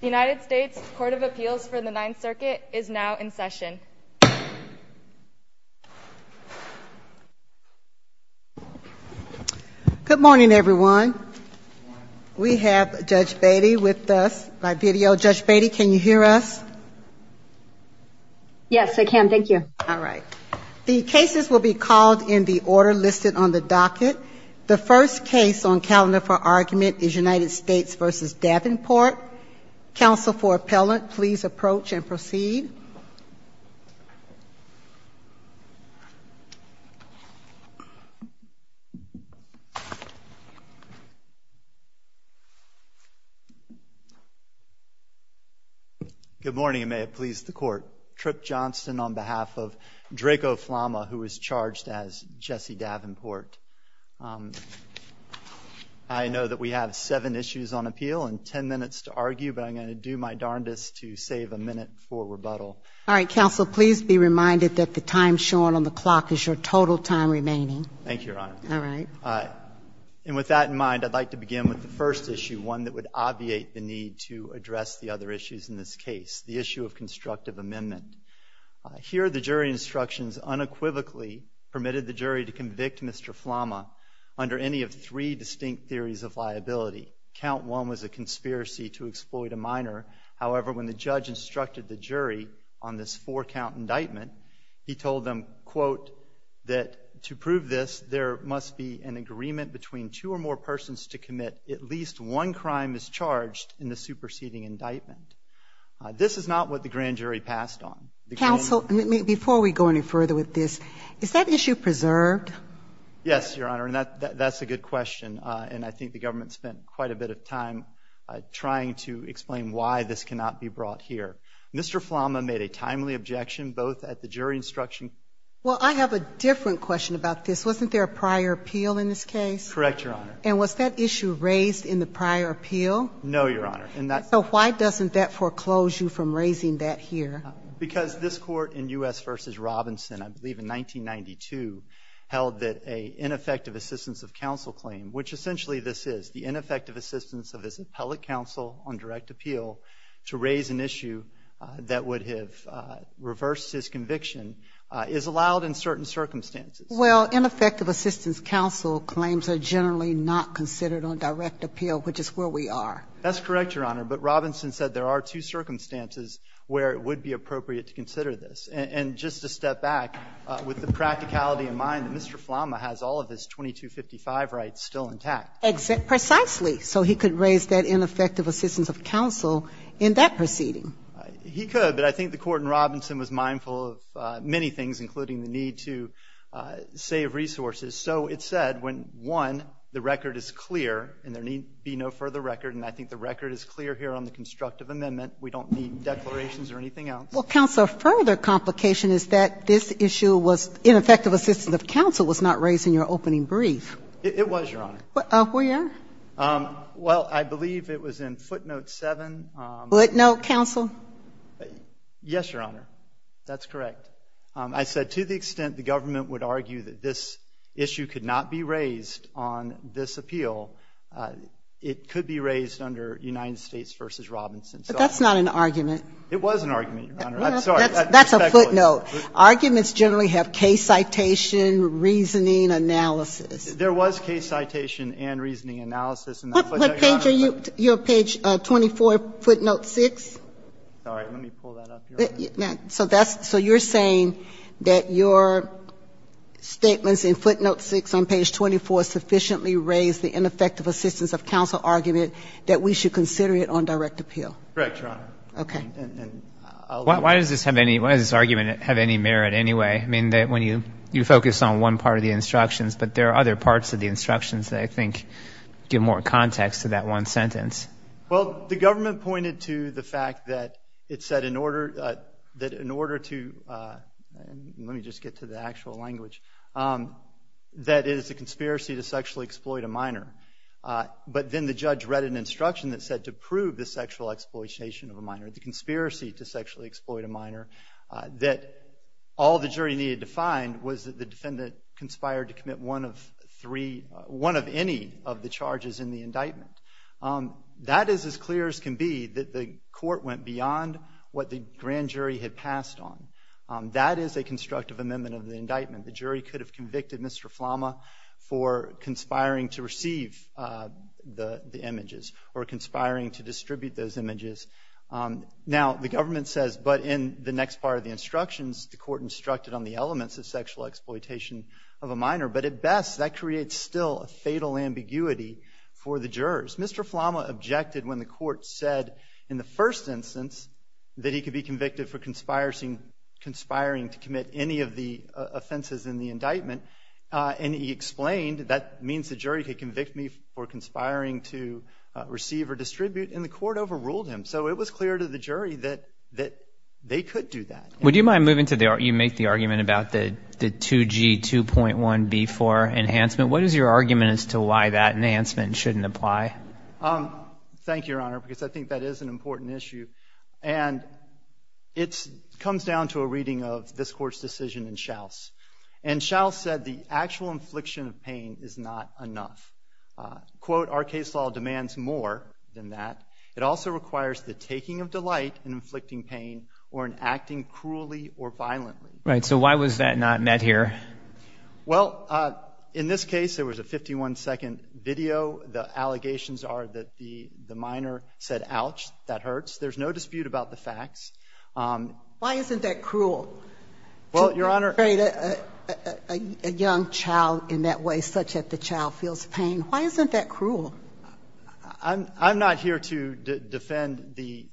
The United States Court of Appeals for the Ninth Circuit is now in session. Good morning, everyone. We have Judge Beatty with us by video. Judge Beatty, can you hear us? Yes, I can. Thank you. All right. The cases will be called in the order listed on the docket. The first case on calendar for argument is United States v. Davenport. Counsel for appellant, please approach and proceed. Good morning, and may it please the Court. Tripp Johnston on behalf of Draco Flama, who is charged as Jesse Davenport. I know that we have seven issues on appeal and ten minutes to argue, but I'm going to do my darndest to save a minute for rebuttal. All right. Counsel, please be reminded that the time shown on the clock is your total time remaining. Thank you, Your Honor. All right. And with that in mind, I'd like to begin with the first issue, one that would obviate the need to address the other issues in this case, the issue of constructive amendment. Here, the jury instructions unequivocally permitted the jury to convict Mr. Flama under any of three distinct theories of liability. Count one was a conspiracy to exploit a minor. However, when the judge instructed the jury on this four-count indictment, he told them, quote, that to prove this, there must be an agreement between two or more persons to commit at least one crime as charged in the superseding indictment. This is not what the grand jury passed on. Counsel, before we go any further with this, is that issue preserved? Yes, Your Honor, and that's a good question. And I think the government spent quite a bit of time trying to explain why this cannot be brought here. Mr. Flama made a timely objection both at the jury instruction. Well, I have a different question about this. Wasn't there a prior appeal in this case? Correct, Your Honor. And was that issue raised in the prior appeal? No, Your Honor. So why doesn't that foreclose you from raising that here? Because this Court in U.S. v. Robinson, I believe in 1992, held that an ineffective assistance of counsel claim, which essentially this is, the ineffective assistance of his appellate counsel on direct appeal to raise an issue that would have reversed his conviction, is allowed in certain circumstances. Well, ineffective assistance counsel claims are generally not considered on direct appeal, which is where we are. That's correct, Your Honor. But Robinson said there are two circumstances where it would be appropriate to consider this. And just to step back, with the practicality in mind that Mr. Flama has all of his 2255 rights still intact. Precisely. So he could raise that ineffective assistance of counsel in that proceeding. He could, but I think the Court in Robinson was mindful of many things, including the need to save resources. So it's said when, one, the record is clear, and there need be no further record, and I think the record is clear here on the constructive amendment. We don't need declarations or anything else. Well, counsel, a further complication is that this issue was ineffective assistance of counsel was not raised in your opening brief. It was, Your Honor. Where? Well, I believe it was in footnote 7. Footnote counsel? Yes, Your Honor. That's correct. I said to the extent the government would argue that this issue could not be raised on this appeal, it could be raised under United States v. Robinson. But that's not an argument. It was an argument, Your Honor. I'm sorry. That's a footnote. Arguments generally have case citation, reasoning, analysis. There was case citation and reasoning analysis. What page are you? You have page 24, footnote 6? Sorry. Let me pull that up here. So you're saying that your statements in footnote 6 on page 24 sufficiently raise the ineffective assistance of counsel argument that we should consider it on direct appeal? Correct, Your Honor. Okay. Why does this argument have any merit anyway? I mean, when you focus on one part of the instructions, but there are other parts of the instructions that I think give more context to that one sentence. Well, the government pointed to the fact that it said in order to, let me just get to the actual language, that it is a conspiracy to sexually exploit a minor. But then the judge read an instruction that said to prove the sexual exploitation of a minor, the conspiracy to sexually exploit a minor, that all the jury needed to find was that the defendant conspired to commit one of any of the charges in the indictment. That is as clear as can be that the court went beyond what the grand jury had passed on. That is a constructive amendment of the indictment. The jury could have convicted Mr. Flama for conspiring to receive the images or conspiring to distribute those images. Now, the government says, but in the next part of the instructions, the court instructed on the elements of sexual exploitation of a minor. But at best, that creates still a fatal ambiguity for the jurors. Mr. Flama objected when the court said in the first instance that he could be convicted for conspiring to commit any of the offenses in the indictment, and he explained that means the jury could convict me for conspiring to receive or distribute, and the court overruled him. So it was clear to the jury that they could do that. Would you mind moving to the argument about the 2G 2.1B4 enhancement? What is your argument as to why that enhancement shouldn't apply? Thank you, Your Honor, because I think that is an important issue. And it comes down to a reading of this Court's decision in Shouse. And Shouse said the actual infliction of pain is not enough. Quote, our case law demands more than that. It also requires the taking of delight in inflicting pain or in acting cruelly or violently. Right. So why was that not met here? Well, in this case, there was a 51-second video. The allegations are that the minor said, ouch, that hurts. There's no dispute about the facts. Why isn't that cruel? Well, Your Honor ---- I'm not here to defend the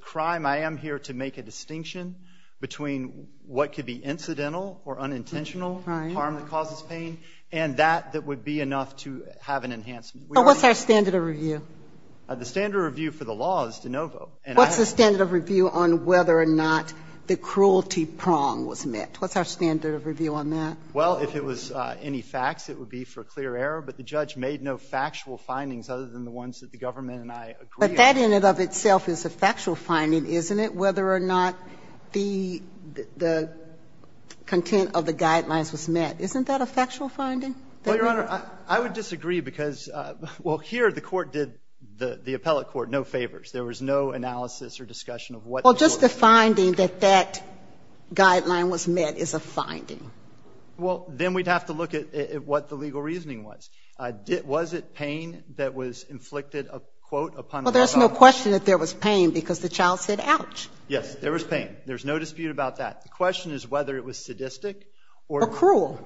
crime. I am here to make a distinction between what could be incidental or unintentional harm that causes pain, and that that would be enough to have an enhancement. So what's our standard of review? The standard of review for the law is de novo. What's the standard of review on whether or not the cruelty prong was met? What's our standard of review on that? Well, if it was any facts, it would be for clear error. But the judge made no factual findings other than the ones that the government and I agree on. But that in and of itself is a factual finding, isn't it, whether or not the content of the guidelines was met? Isn't that a factual finding? Well, Your Honor, I would disagree because, well, here the court did the appellate court no favors. There was no analysis or discussion of what the court did. Well, just the finding that that guideline was met is a finding. Well, then we'd have to look at what the legal reasoning was. Was it pain that was inflicted, quote, upon the child? Well, there's no question that there was pain because the child said ouch. Yes, there was pain. There's no dispute about that. The question is whether it was sadistic or cruel.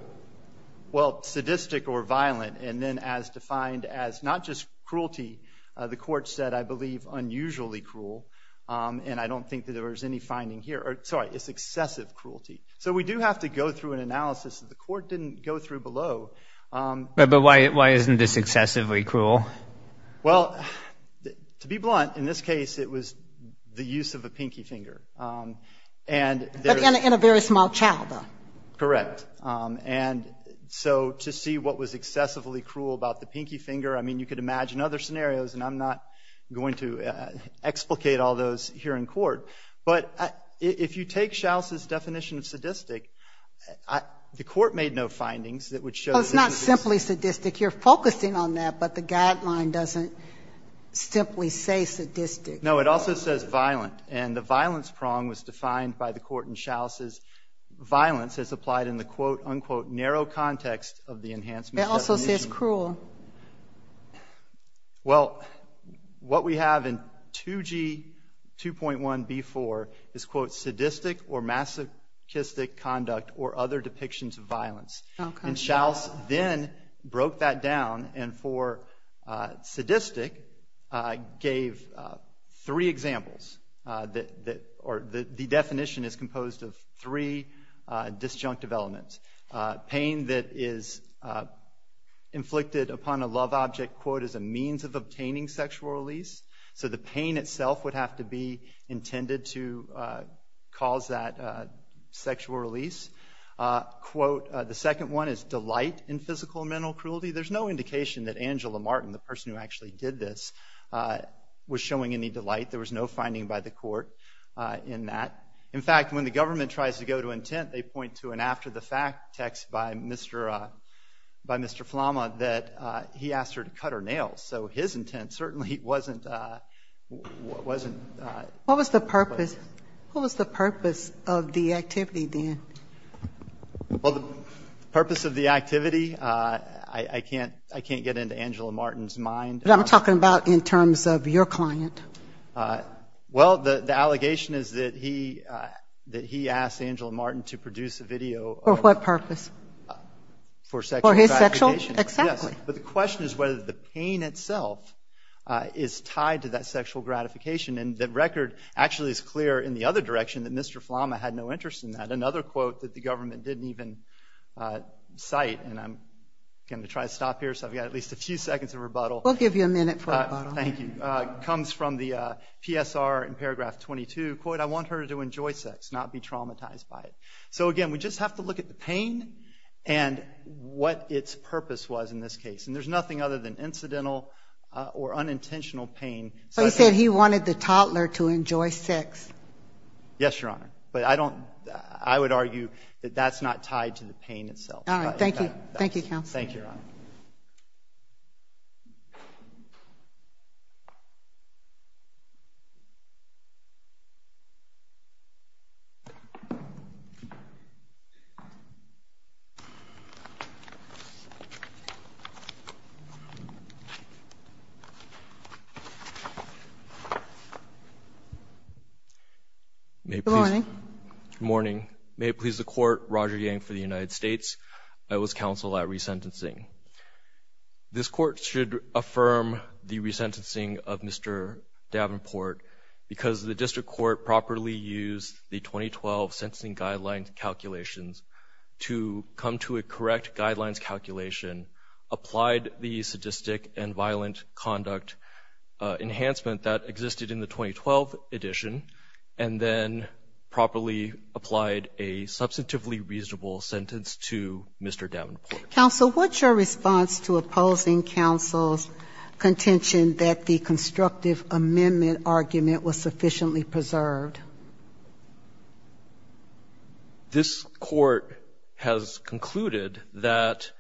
Well, sadistic or violent. And then as defined as not just cruelty, the court said, I believe, unusually cruel, and I don't think that there was any finding here. Sorry, it's excessive cruelty. So we do have to go through an analysis that the court didn't go through below. But why isn't this excessively cruel? Well, to be blunt, in this case, it was the use of a pinky finger. But in a very small child, though. Correct. And so to see what was excessively cruel about the pinky finger, I mean, you could imagine other scenarios, and I'm not going to explicate all those here in court. But if you take Shouse's definition of sadistic, the court made no findings that would show that it was sadistic. Well, it's not simply sadistic. You're focusing on that, but the guideline doesn't simply say sadistic. No, it also says violent. And the violence prong was defined by the court in Shouse's violence as applied in the, quote, unquote, narrow context of the enhancement definition. It also says cruel. Well, what we have in 2G 2.1b4 is, quote, sadistic or masochistic conduct or other depictions of violence. And Shouse then broke that down, and for sadistic, gave three examples. The definition is composed of three disjunctive elements. Pain that is inflicted upon a love object, quote, is a means of obtaining sexual release. So the pain itself would have to be intended to cause that sexual release. Quote, the second one is delight in physical and mental cruelty. There's no indication that Angela Martin, the person who actually did this, was showing any delight. There was no finding by the court in that. In fact, when the government tries to go to intent, they point to an after-the-fact text by Mr. Flama that he asked her to cut her nails. So his intent certainly wasn't. What was the purpose of the activity then? Well, the purpose of the activity, I can't get into Angela Martin's mind. What I'm talking about in terms of your client. Well, the allegation is that he asked Angela Martin to produce a video. For what purpose? For sexual gratification. For his sexual? Exactly. Yes, but the question is whether the pain itself is tied to that sexual gratification. And the record actually is clear in the other direction that Mr. Flama had no interest in that. Another quote that the government didn't even cite, and I'm going to try to stop here so I've got at least a few seconds of rebuttal. We'll give you a minute for rebuttal. Thank you. It comes from the PSR in paragraph 22. Quote, I want her to enjoy sex, not be traumatized by it. So, again, we just have to look at the pain and what its purpose was in this case. And there's nothing other than incidental or unintentional pain. So he said he wanted the toddler to enjoy sex. Yes, Your Honor. But I would argue that that's not tied to the pain itself. All right. Thank you, Counsel. Thank you, Your Honor. Good morning. Good morning. May it please the Court, Roger Yang for the United States. I was counsel at resentencing. This Court should affirm the resentencing of Mr. Davenport because the district court properly used the 2012 sentencing guidelines calculations to come to a correct guidelines calculation, applied the sadistic and violent conduct enhancement that existed in the 2012 edition, and then properly applied a substantively reasonable sentence to Mr. Davenport. Counsel, what's your response to opposing counsel's contention that the constructive amendment argument was sufficiently preserved? This Court has concluded that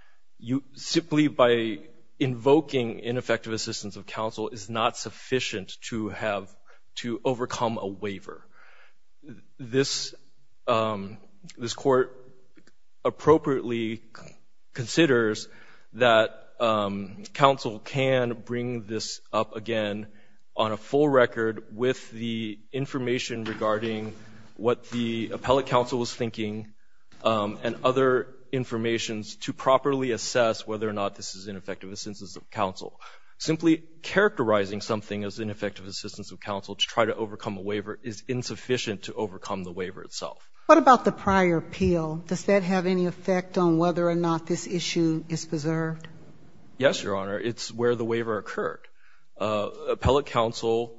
simply by invoking ineffective assistance of counsel is not sufficient to overcome a waiver. This Court appropriately considers that counsel can bring this up again on a full record with the information regarding what the appellate counsel was thinking and other information to properly assess whether or not this is ineffective assistance of counsel. Simply characterizing something as ineffective assistance of counsel to try to prove is insufficient to overcome the waiver itself. What about the prior appeal? Does that have any effect on whether or not this issue is preserved? Yes, Your Honor. It's where the waiver occurred. Appellate counsel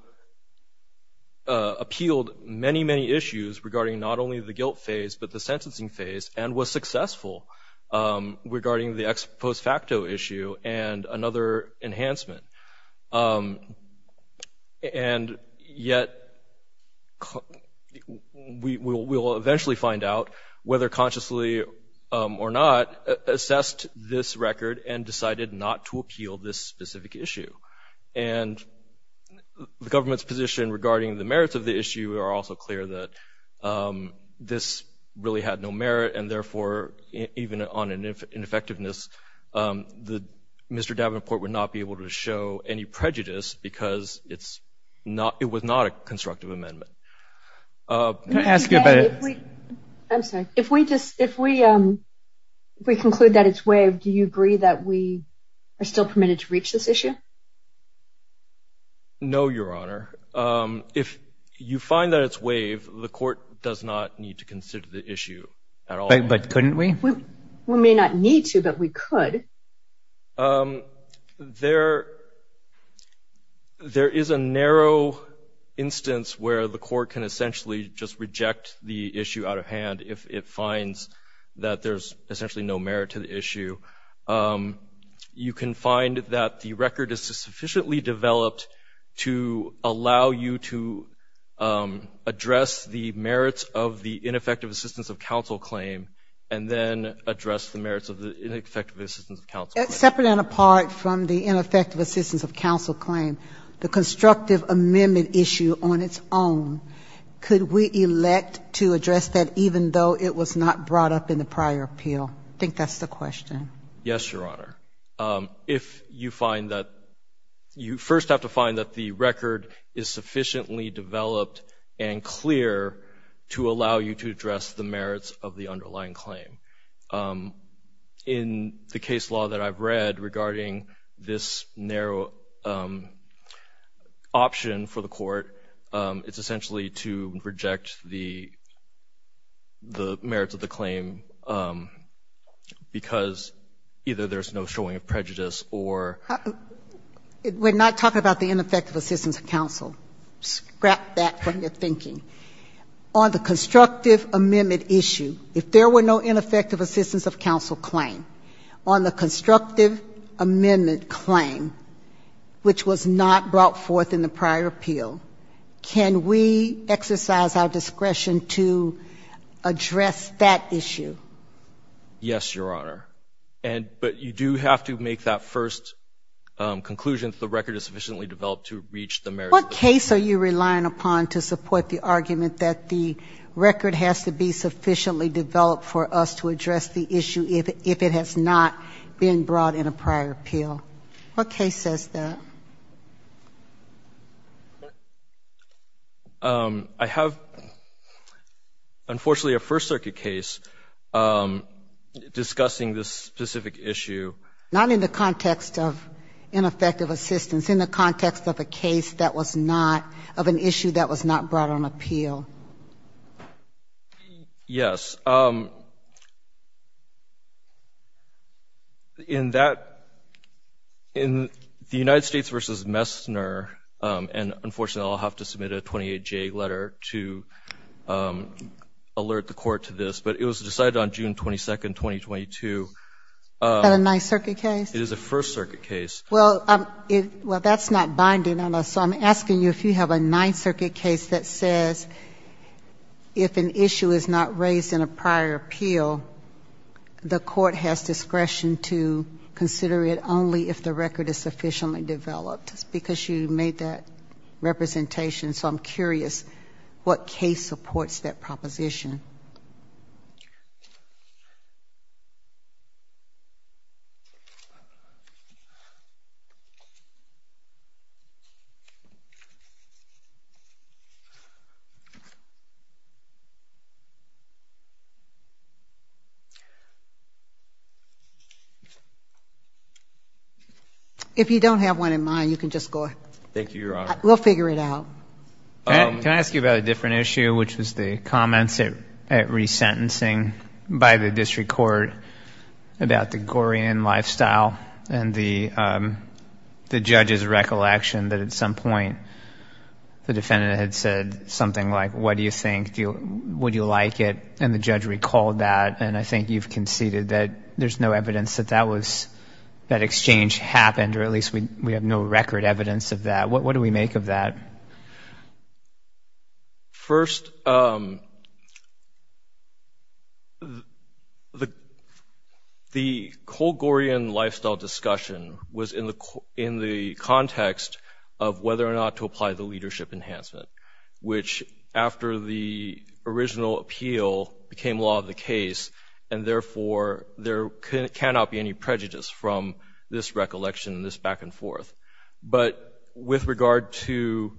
appealed many, many issues regarding not only the guilt phase but the sentencing phase and was successful regarding the ex post facto issue and another enhancement. And yet we will eventually find out whether consciously or not assessed this record and decided not to appeal this specific issue. And the government's position regarding the merits of the issue are also clear that this really had no merit and therefore even on an ineffectiveness Mr. Davenport would not be able to show any prejudice because it was not a constructive amendment. Can I ask you about it? I'm sorry. If we conclude that it's waived, do you agree that we are still permitted to reach this issue? No, Your Honor. If you find that it's waived, the Court does not need to consider the issue at all. But couldn't we? We may not need to, but we could. Okay. There is a narrow instance where the Court can essentially just reject the issue out of hand if it finds that there's essentially no merit to the issue. You can find that the record is sufficiently developed to allow you to address the merits of the ineffective assistance of counsel claim. Separate and apart from the ineffective assistance of counsel claim, the constructive amendment issue on its own, could we elect to address that even though it was not brought up in the prior appeal? I think that's the question. Yes, Your Honor. If you find that you first have to find that the record is sufficiently developed and clear to allow you to address the merits of the underlying claim. In the case law that I've read regarding this narrow option for the Court, it's essentially to reject the merits of the claim because either there's no showing of prejudice or... We're not talking about the ineffective assistance of counsel. Scrap that from your thinking. On the constructive amendment issue, if there were no ineffective assistance of counsel claim, on the constructive amendment claim, which was not brought forth in the prior appeal, can we exercise our discretion to address that issue? Yes, Your Honor. But you do have to make that first conclusion that the record is sufficiently developed to reach the merits of the claim. What case are you relying upon to support the argument that the record has to be sufficiently developed for us to address the issue if it has not been brought in a prior appeal? What case says that? I have, unfortunately, a First Circuit case discussing this specific issue. Not in the context of ineffective assistance, in the context of a case that was not of an issue that was not brought on appeal. Yes. In that, in the United States v. Messner, and unfortunately, I'll have to submit a 28-J letter to alert the Court to this, but it was decided on June 22, 2022. Is that a Ninth Circuit case? It is a First Circuit case. Well, that's not binding on us. So I'm asking you if you have a Ninth Circuit case that says if an issue is not raised in a prior appeal, the Court has discretion to consider it only if the record is sufficiently developed, because you made that representation. So I'm curious what case supports that proposition. If you don't have one in mind, you can just go ahead. Thank you, Your Honor. We'll figure it out. Can I ask you about a different issue, which was the comments at resentencing by the district court about the Gorian lifestyle and the judge's recollection that at some point the defendant had said something like, what do you think, would you like it, and the judge recalled that, and I think you've conceded that there's no evidence that that was, that exchange happened, or at least we have no record evidence of that. What do we make of that? First, the Cole-Gorian lifestyle discussion was in the context of whether or not to apply the leadership enhancement, which after the original appeal became law of the case, and therefore there cannot be any prejudice from this recollection and this back and forth. But with regard to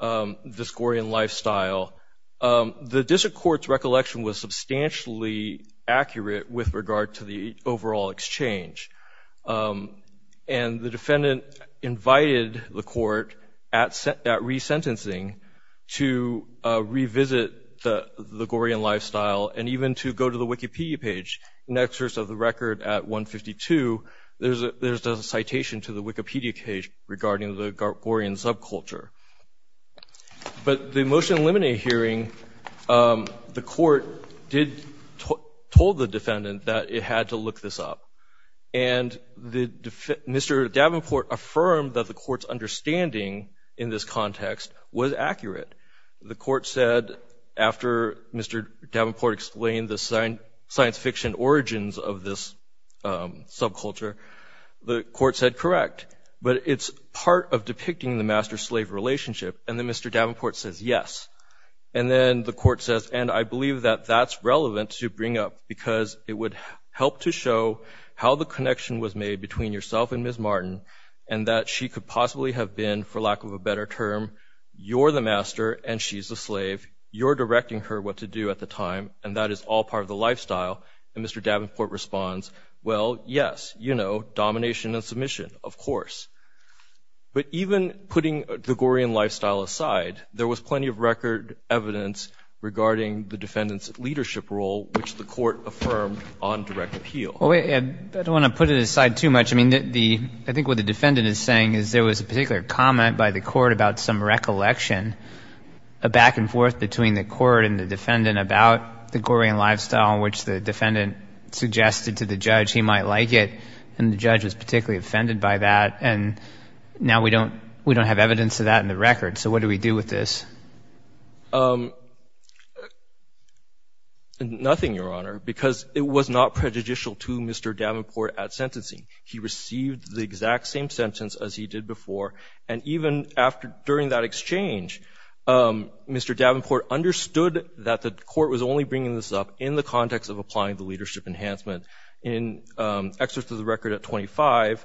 this Gorian lifestyle, the district court's recollection was substantially accurate with regard to the overall exchange. And the defendant invited the court at resentencing to revisit the Gorian lifestyle and even to go to the Wikipedia page. In excess of the record at 152, there's a citation to the Wikipedia page regarding the Gorian subculture. But the motion to eliminate hearing, the court did, told the defendant that it had to look this up. And Mr. Davenport affirmed that the court's understanding in this context was accurate. The court said, after Mr. Davenport explained the science fiction origins of this subculture, the court said, correct, but it's part of depicting the master-slave relationship. And then Mr. Davenport says, yes. And then the court says, and I believe that that's relevant to bring up, because it would help to show how the connection was made between yourself and Ms. Martin and that she could possibly have been, for lack of a better term, you're the master and she's the slave. You're directing her what to do at the time, and that is all part of the lifestyle. And Mr. Davenport responds, well, yes, you know, domination and submission, of course. But even putting the Gorian lifestyle aside, there was plenty of record evidence regarding the defendant's leadership role, which the court affirmed on direct appeal. I don't want to put it aside too much. I think what the defendant is saying is there was a particular comment by the court about some recollection, a back-and-forth between the court and the defendant about the Gorian lifestyle in which the defendant suggested to the judge he might like it, and the judge was particularly offended by that. And now we don't have evidence of that in the record. So what do we do with this? Nothing, Your Honor, because it was not prejudicial to Mr. Davenport at sentencing. He received the exact same sentence as he did before. And even during that exchange, Mr. Davenport understood that the court was only bringing this up in the context of applying the leadership enhancement. In Excerpt of the Record at 25,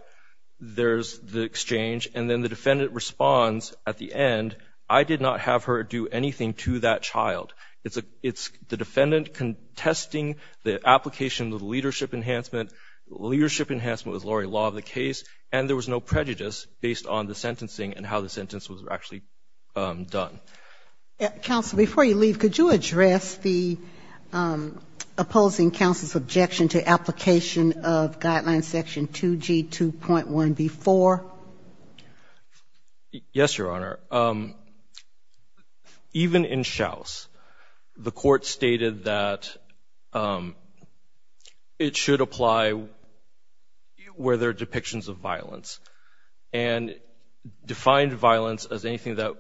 there's the exchange, and then the defendant responds at the end, I did not have her do anything to that child. It's the defendant contesting the application of the leadership enhancement. Leadership enhancement was already law of the case, and there was no prejudice based on the sentencing and how the sentence was actually done. Counsel, before you leave, could you address the opposing counsel's objection to application of Guideline Section 2G2.1B4? Yes, Your Honor. Even in Shouse, the court stated that it should apply where there are depictions of violence, and defined violence as anything that,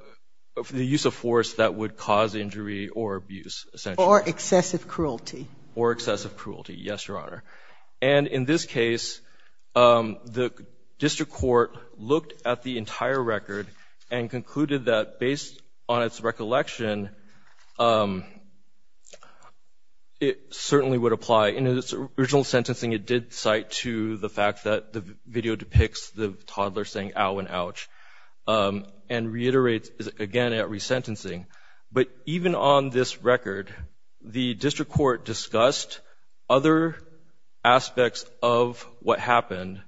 the use of force that would cause injury or abuse, essentially. Or excessive cruelty. Or excessive cruelty, yes, Your Honor. And in this case, the district court looked at the entire record and concluded that based on its recollection, it certainly would apply. In its original sentencing, it did cite to the fact that the video depicts the toddler saying ow and ouch. And reiterates, again, at resentencing. But even on this record, the district court discussed other aspects of what happened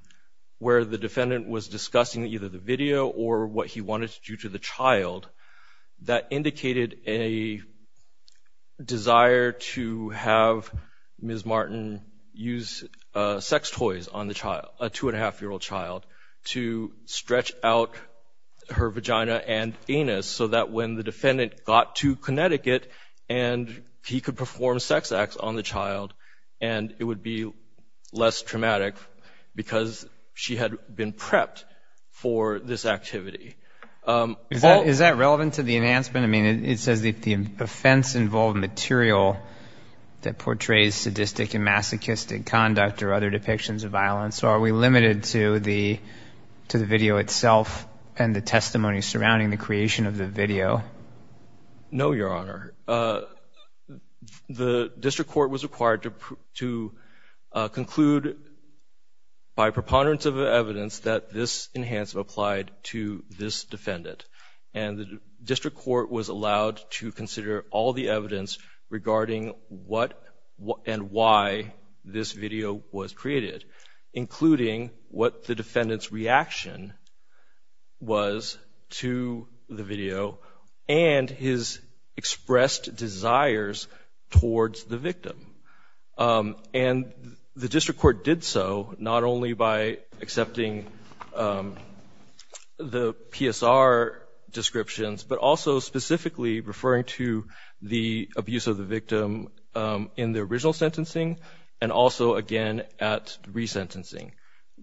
where the defendant was discussing either the video or what he wanted to do to the child that indicated a desire to have Ms. Martin use sex toys on the child, a two-and-a-half-year-old child, to stretch out her vagina and anus so that when the defendant got to Connecticut and he could perform sex acts on the child, and it would be less traumatic because she had been prepped for this activity. Is that relevant to the enhancement? I mean, it says that the offense involved material that portrays sadistic and masochistic conduct or other depictions of violence. So are we limited to the video itself and the testimony surrounding the creation of the video? No, Your Honor. The district court was required to conclude by preponderance of evidence that this defendant, and the district court was allowed to consider all the evidence regarding what and why this video was created, including what the defendant's reaction was to the video and his expressed desires towards the victim. And the district court did so not only by accepting the PSR descriptions, but also specifically referring to the abuse of the victim in the original sentencing and also, again, at resentencing.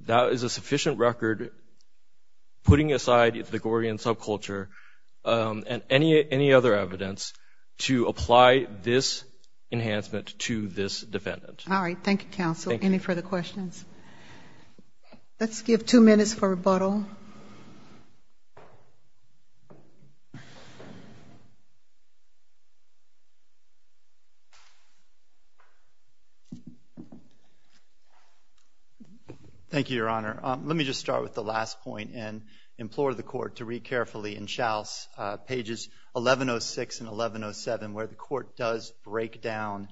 That is a sufficient record, putting aside Ithacorian subculture and any other evidence, to apply this enhancement to this defendant. All right. Thank you, counsel. Thank you. Any further questions? Let's give two minutes for rebuttal. Thank you, Your Honor. Let me just start with the last point and implore the Court to read carefully pages 1106 and 1107, where the Court does break down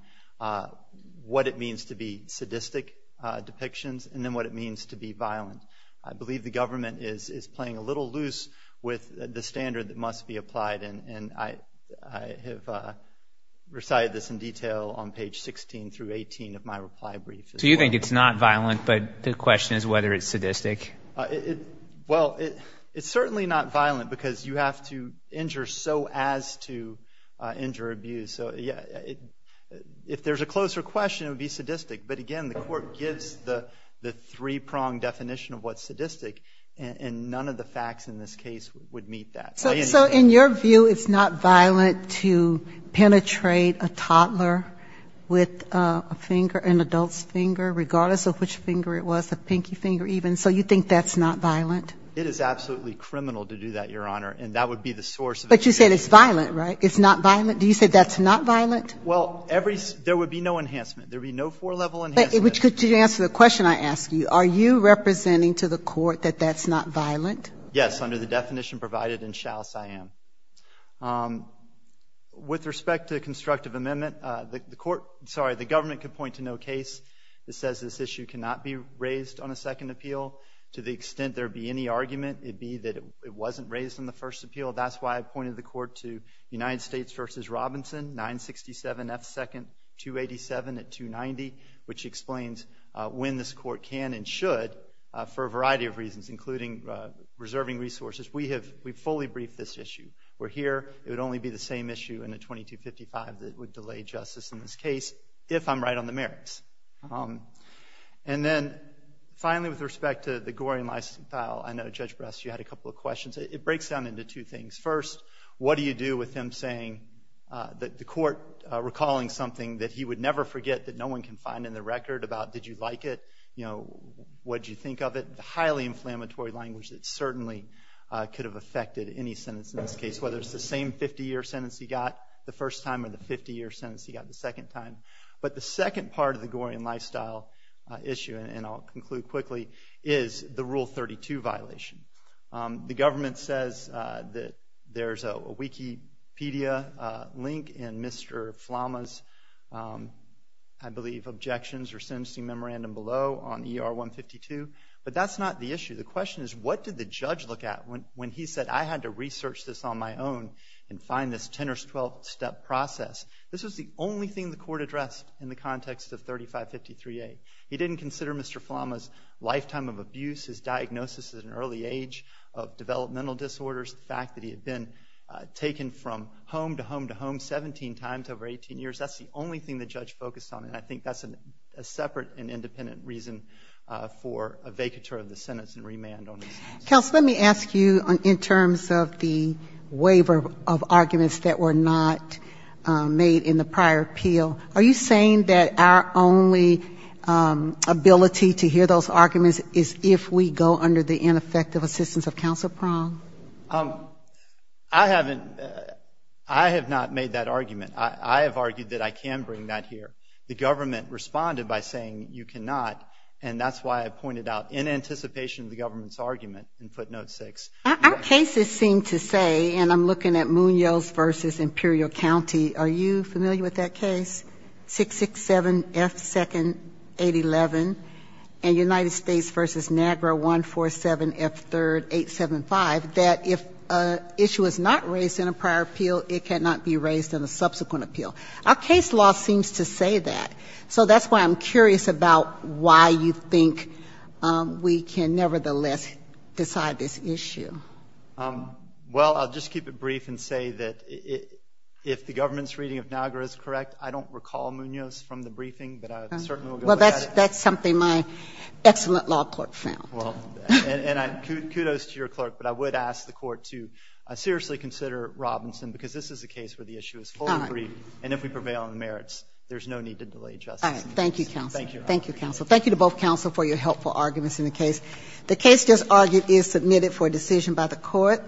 what it means to be sadistic depictions and then what it means to be violent. I believe the government is playing a little loose with the standard that must be applied, and I have recited this in detail on page 16 through 18 of my reply brief. So you think it's not violent, but the question is whether it's sadistic? Well, it's certainly not violent because you have to injure so as to injure abuse. So, yeah, if there's a closer question, it would be sadistic. But, again, the Court gives the three-pronged definition of what's sadistic, and none of the facts in this case would meet that. So in your view, it's not violent to penetrate a toddler with a finger, an adult's finger, regardless of which finger it was, a pinky finger even. So you think that's not violent? It is absolutely criminal to do that, Your Honor, and that would be the source. But you said it's violent, right? It's not violent? Do you say that's not violent? Well, there would be no enhancement. There would be no four-level enhancement. But to answer the question I asked you, are you representing to the Court that that's not violent? Yes, under the definition provided in Shouse, I am. With respect to the constructive amendment, the Government could point to no case that says this issue cannot be raised on a second appeal. To the extent there be any argument, it would be that it wasn't raised in the first appeal. That's why I pointed the Court to United States v. Robinson, 967 F. 2nd, 287 at 290, which explains when this Court can and should, for a variety of reasons, including reserving resources. We have fully briefed this issue. We're here. It would only be the same issue in a 2255 that would delay justice in this case, if I'm right on the merits. And then, finally, with respect to the Gorian license file, I know, Judge Brest, you had a couple of questions. It breaks down into two things. First, what do you do with him saying that the Court recalling something that he would never forget, that no one can find in the record about, did you like it, you know, what did you think of it, the highly inflammatory language that certainly could have affected any sentence in this case, whether it's the same 50-year sentence he got the first time or the 50-year sentence he got the second time. But the second part of the Gorian lifestyle issue, and I'll conclude quickly, is the Rule 32 violation. The government says that there's a Wikipedia link in Mr. Flama's, I believe, objections or sentencing memorandum below on ER 152, but that's not the issue. The question is, what did the judge look at when he said, I had to research this on my own and find this 10- or 12-step process? This was the only thing the Court addressed in the context of 3553A. He didn't consider Mr. Flama's lifetime of abuse, his diagnosis at an early age of developmental disorders, the fact that he had been taken from home to home to home 17 times over 18 years. That's the only thing the judge focused on, and I think that's a separate and independent reason for a vacatur of the sentence and remand on this case. Kagan. Counsel, let me ask you in terms of the waiver of arguments that were not made in the prior appeal. Are you saying that our only ability to hear those arguments is if we go under the ineffective assistance of Counsel Prong? I haven't ‑‑ I have not made that argument. I have argued that I can bring that here. The government responded by saying you cannot, and that's why I pointed out, in anticipation of the government's argument in footnote 6. Our cases seem to say, and I'm looking at Munoz v. Imperial County, are you familiar with that case, 667F2-811, and United States v. Niagara 147F3-875, that if an issue is not raised in a prior appeal, it cannot be raised in a subsequent appeal. Our case law seems to say that. So that's why I'm curious about why you think we can nevertheless decide this issue. Well, I'll just keep it brief and say that if the government's reading of Niagara is correct, I don't recall Munoz from the briefing, but I certainly will go with that. Well, that's something my excellent law clerk found. And kudos to your clerk, but I would ask the Court to seriously consider Robinson, because this is a case where the issue is full and brief, and if we prevail on the merits, there's no need to delay justice. All right. Thank you, counsel. Thank you, counsel. Thank you to both counsel for your helpful arguments in the case. The case just argued is submitted for decision by the Court.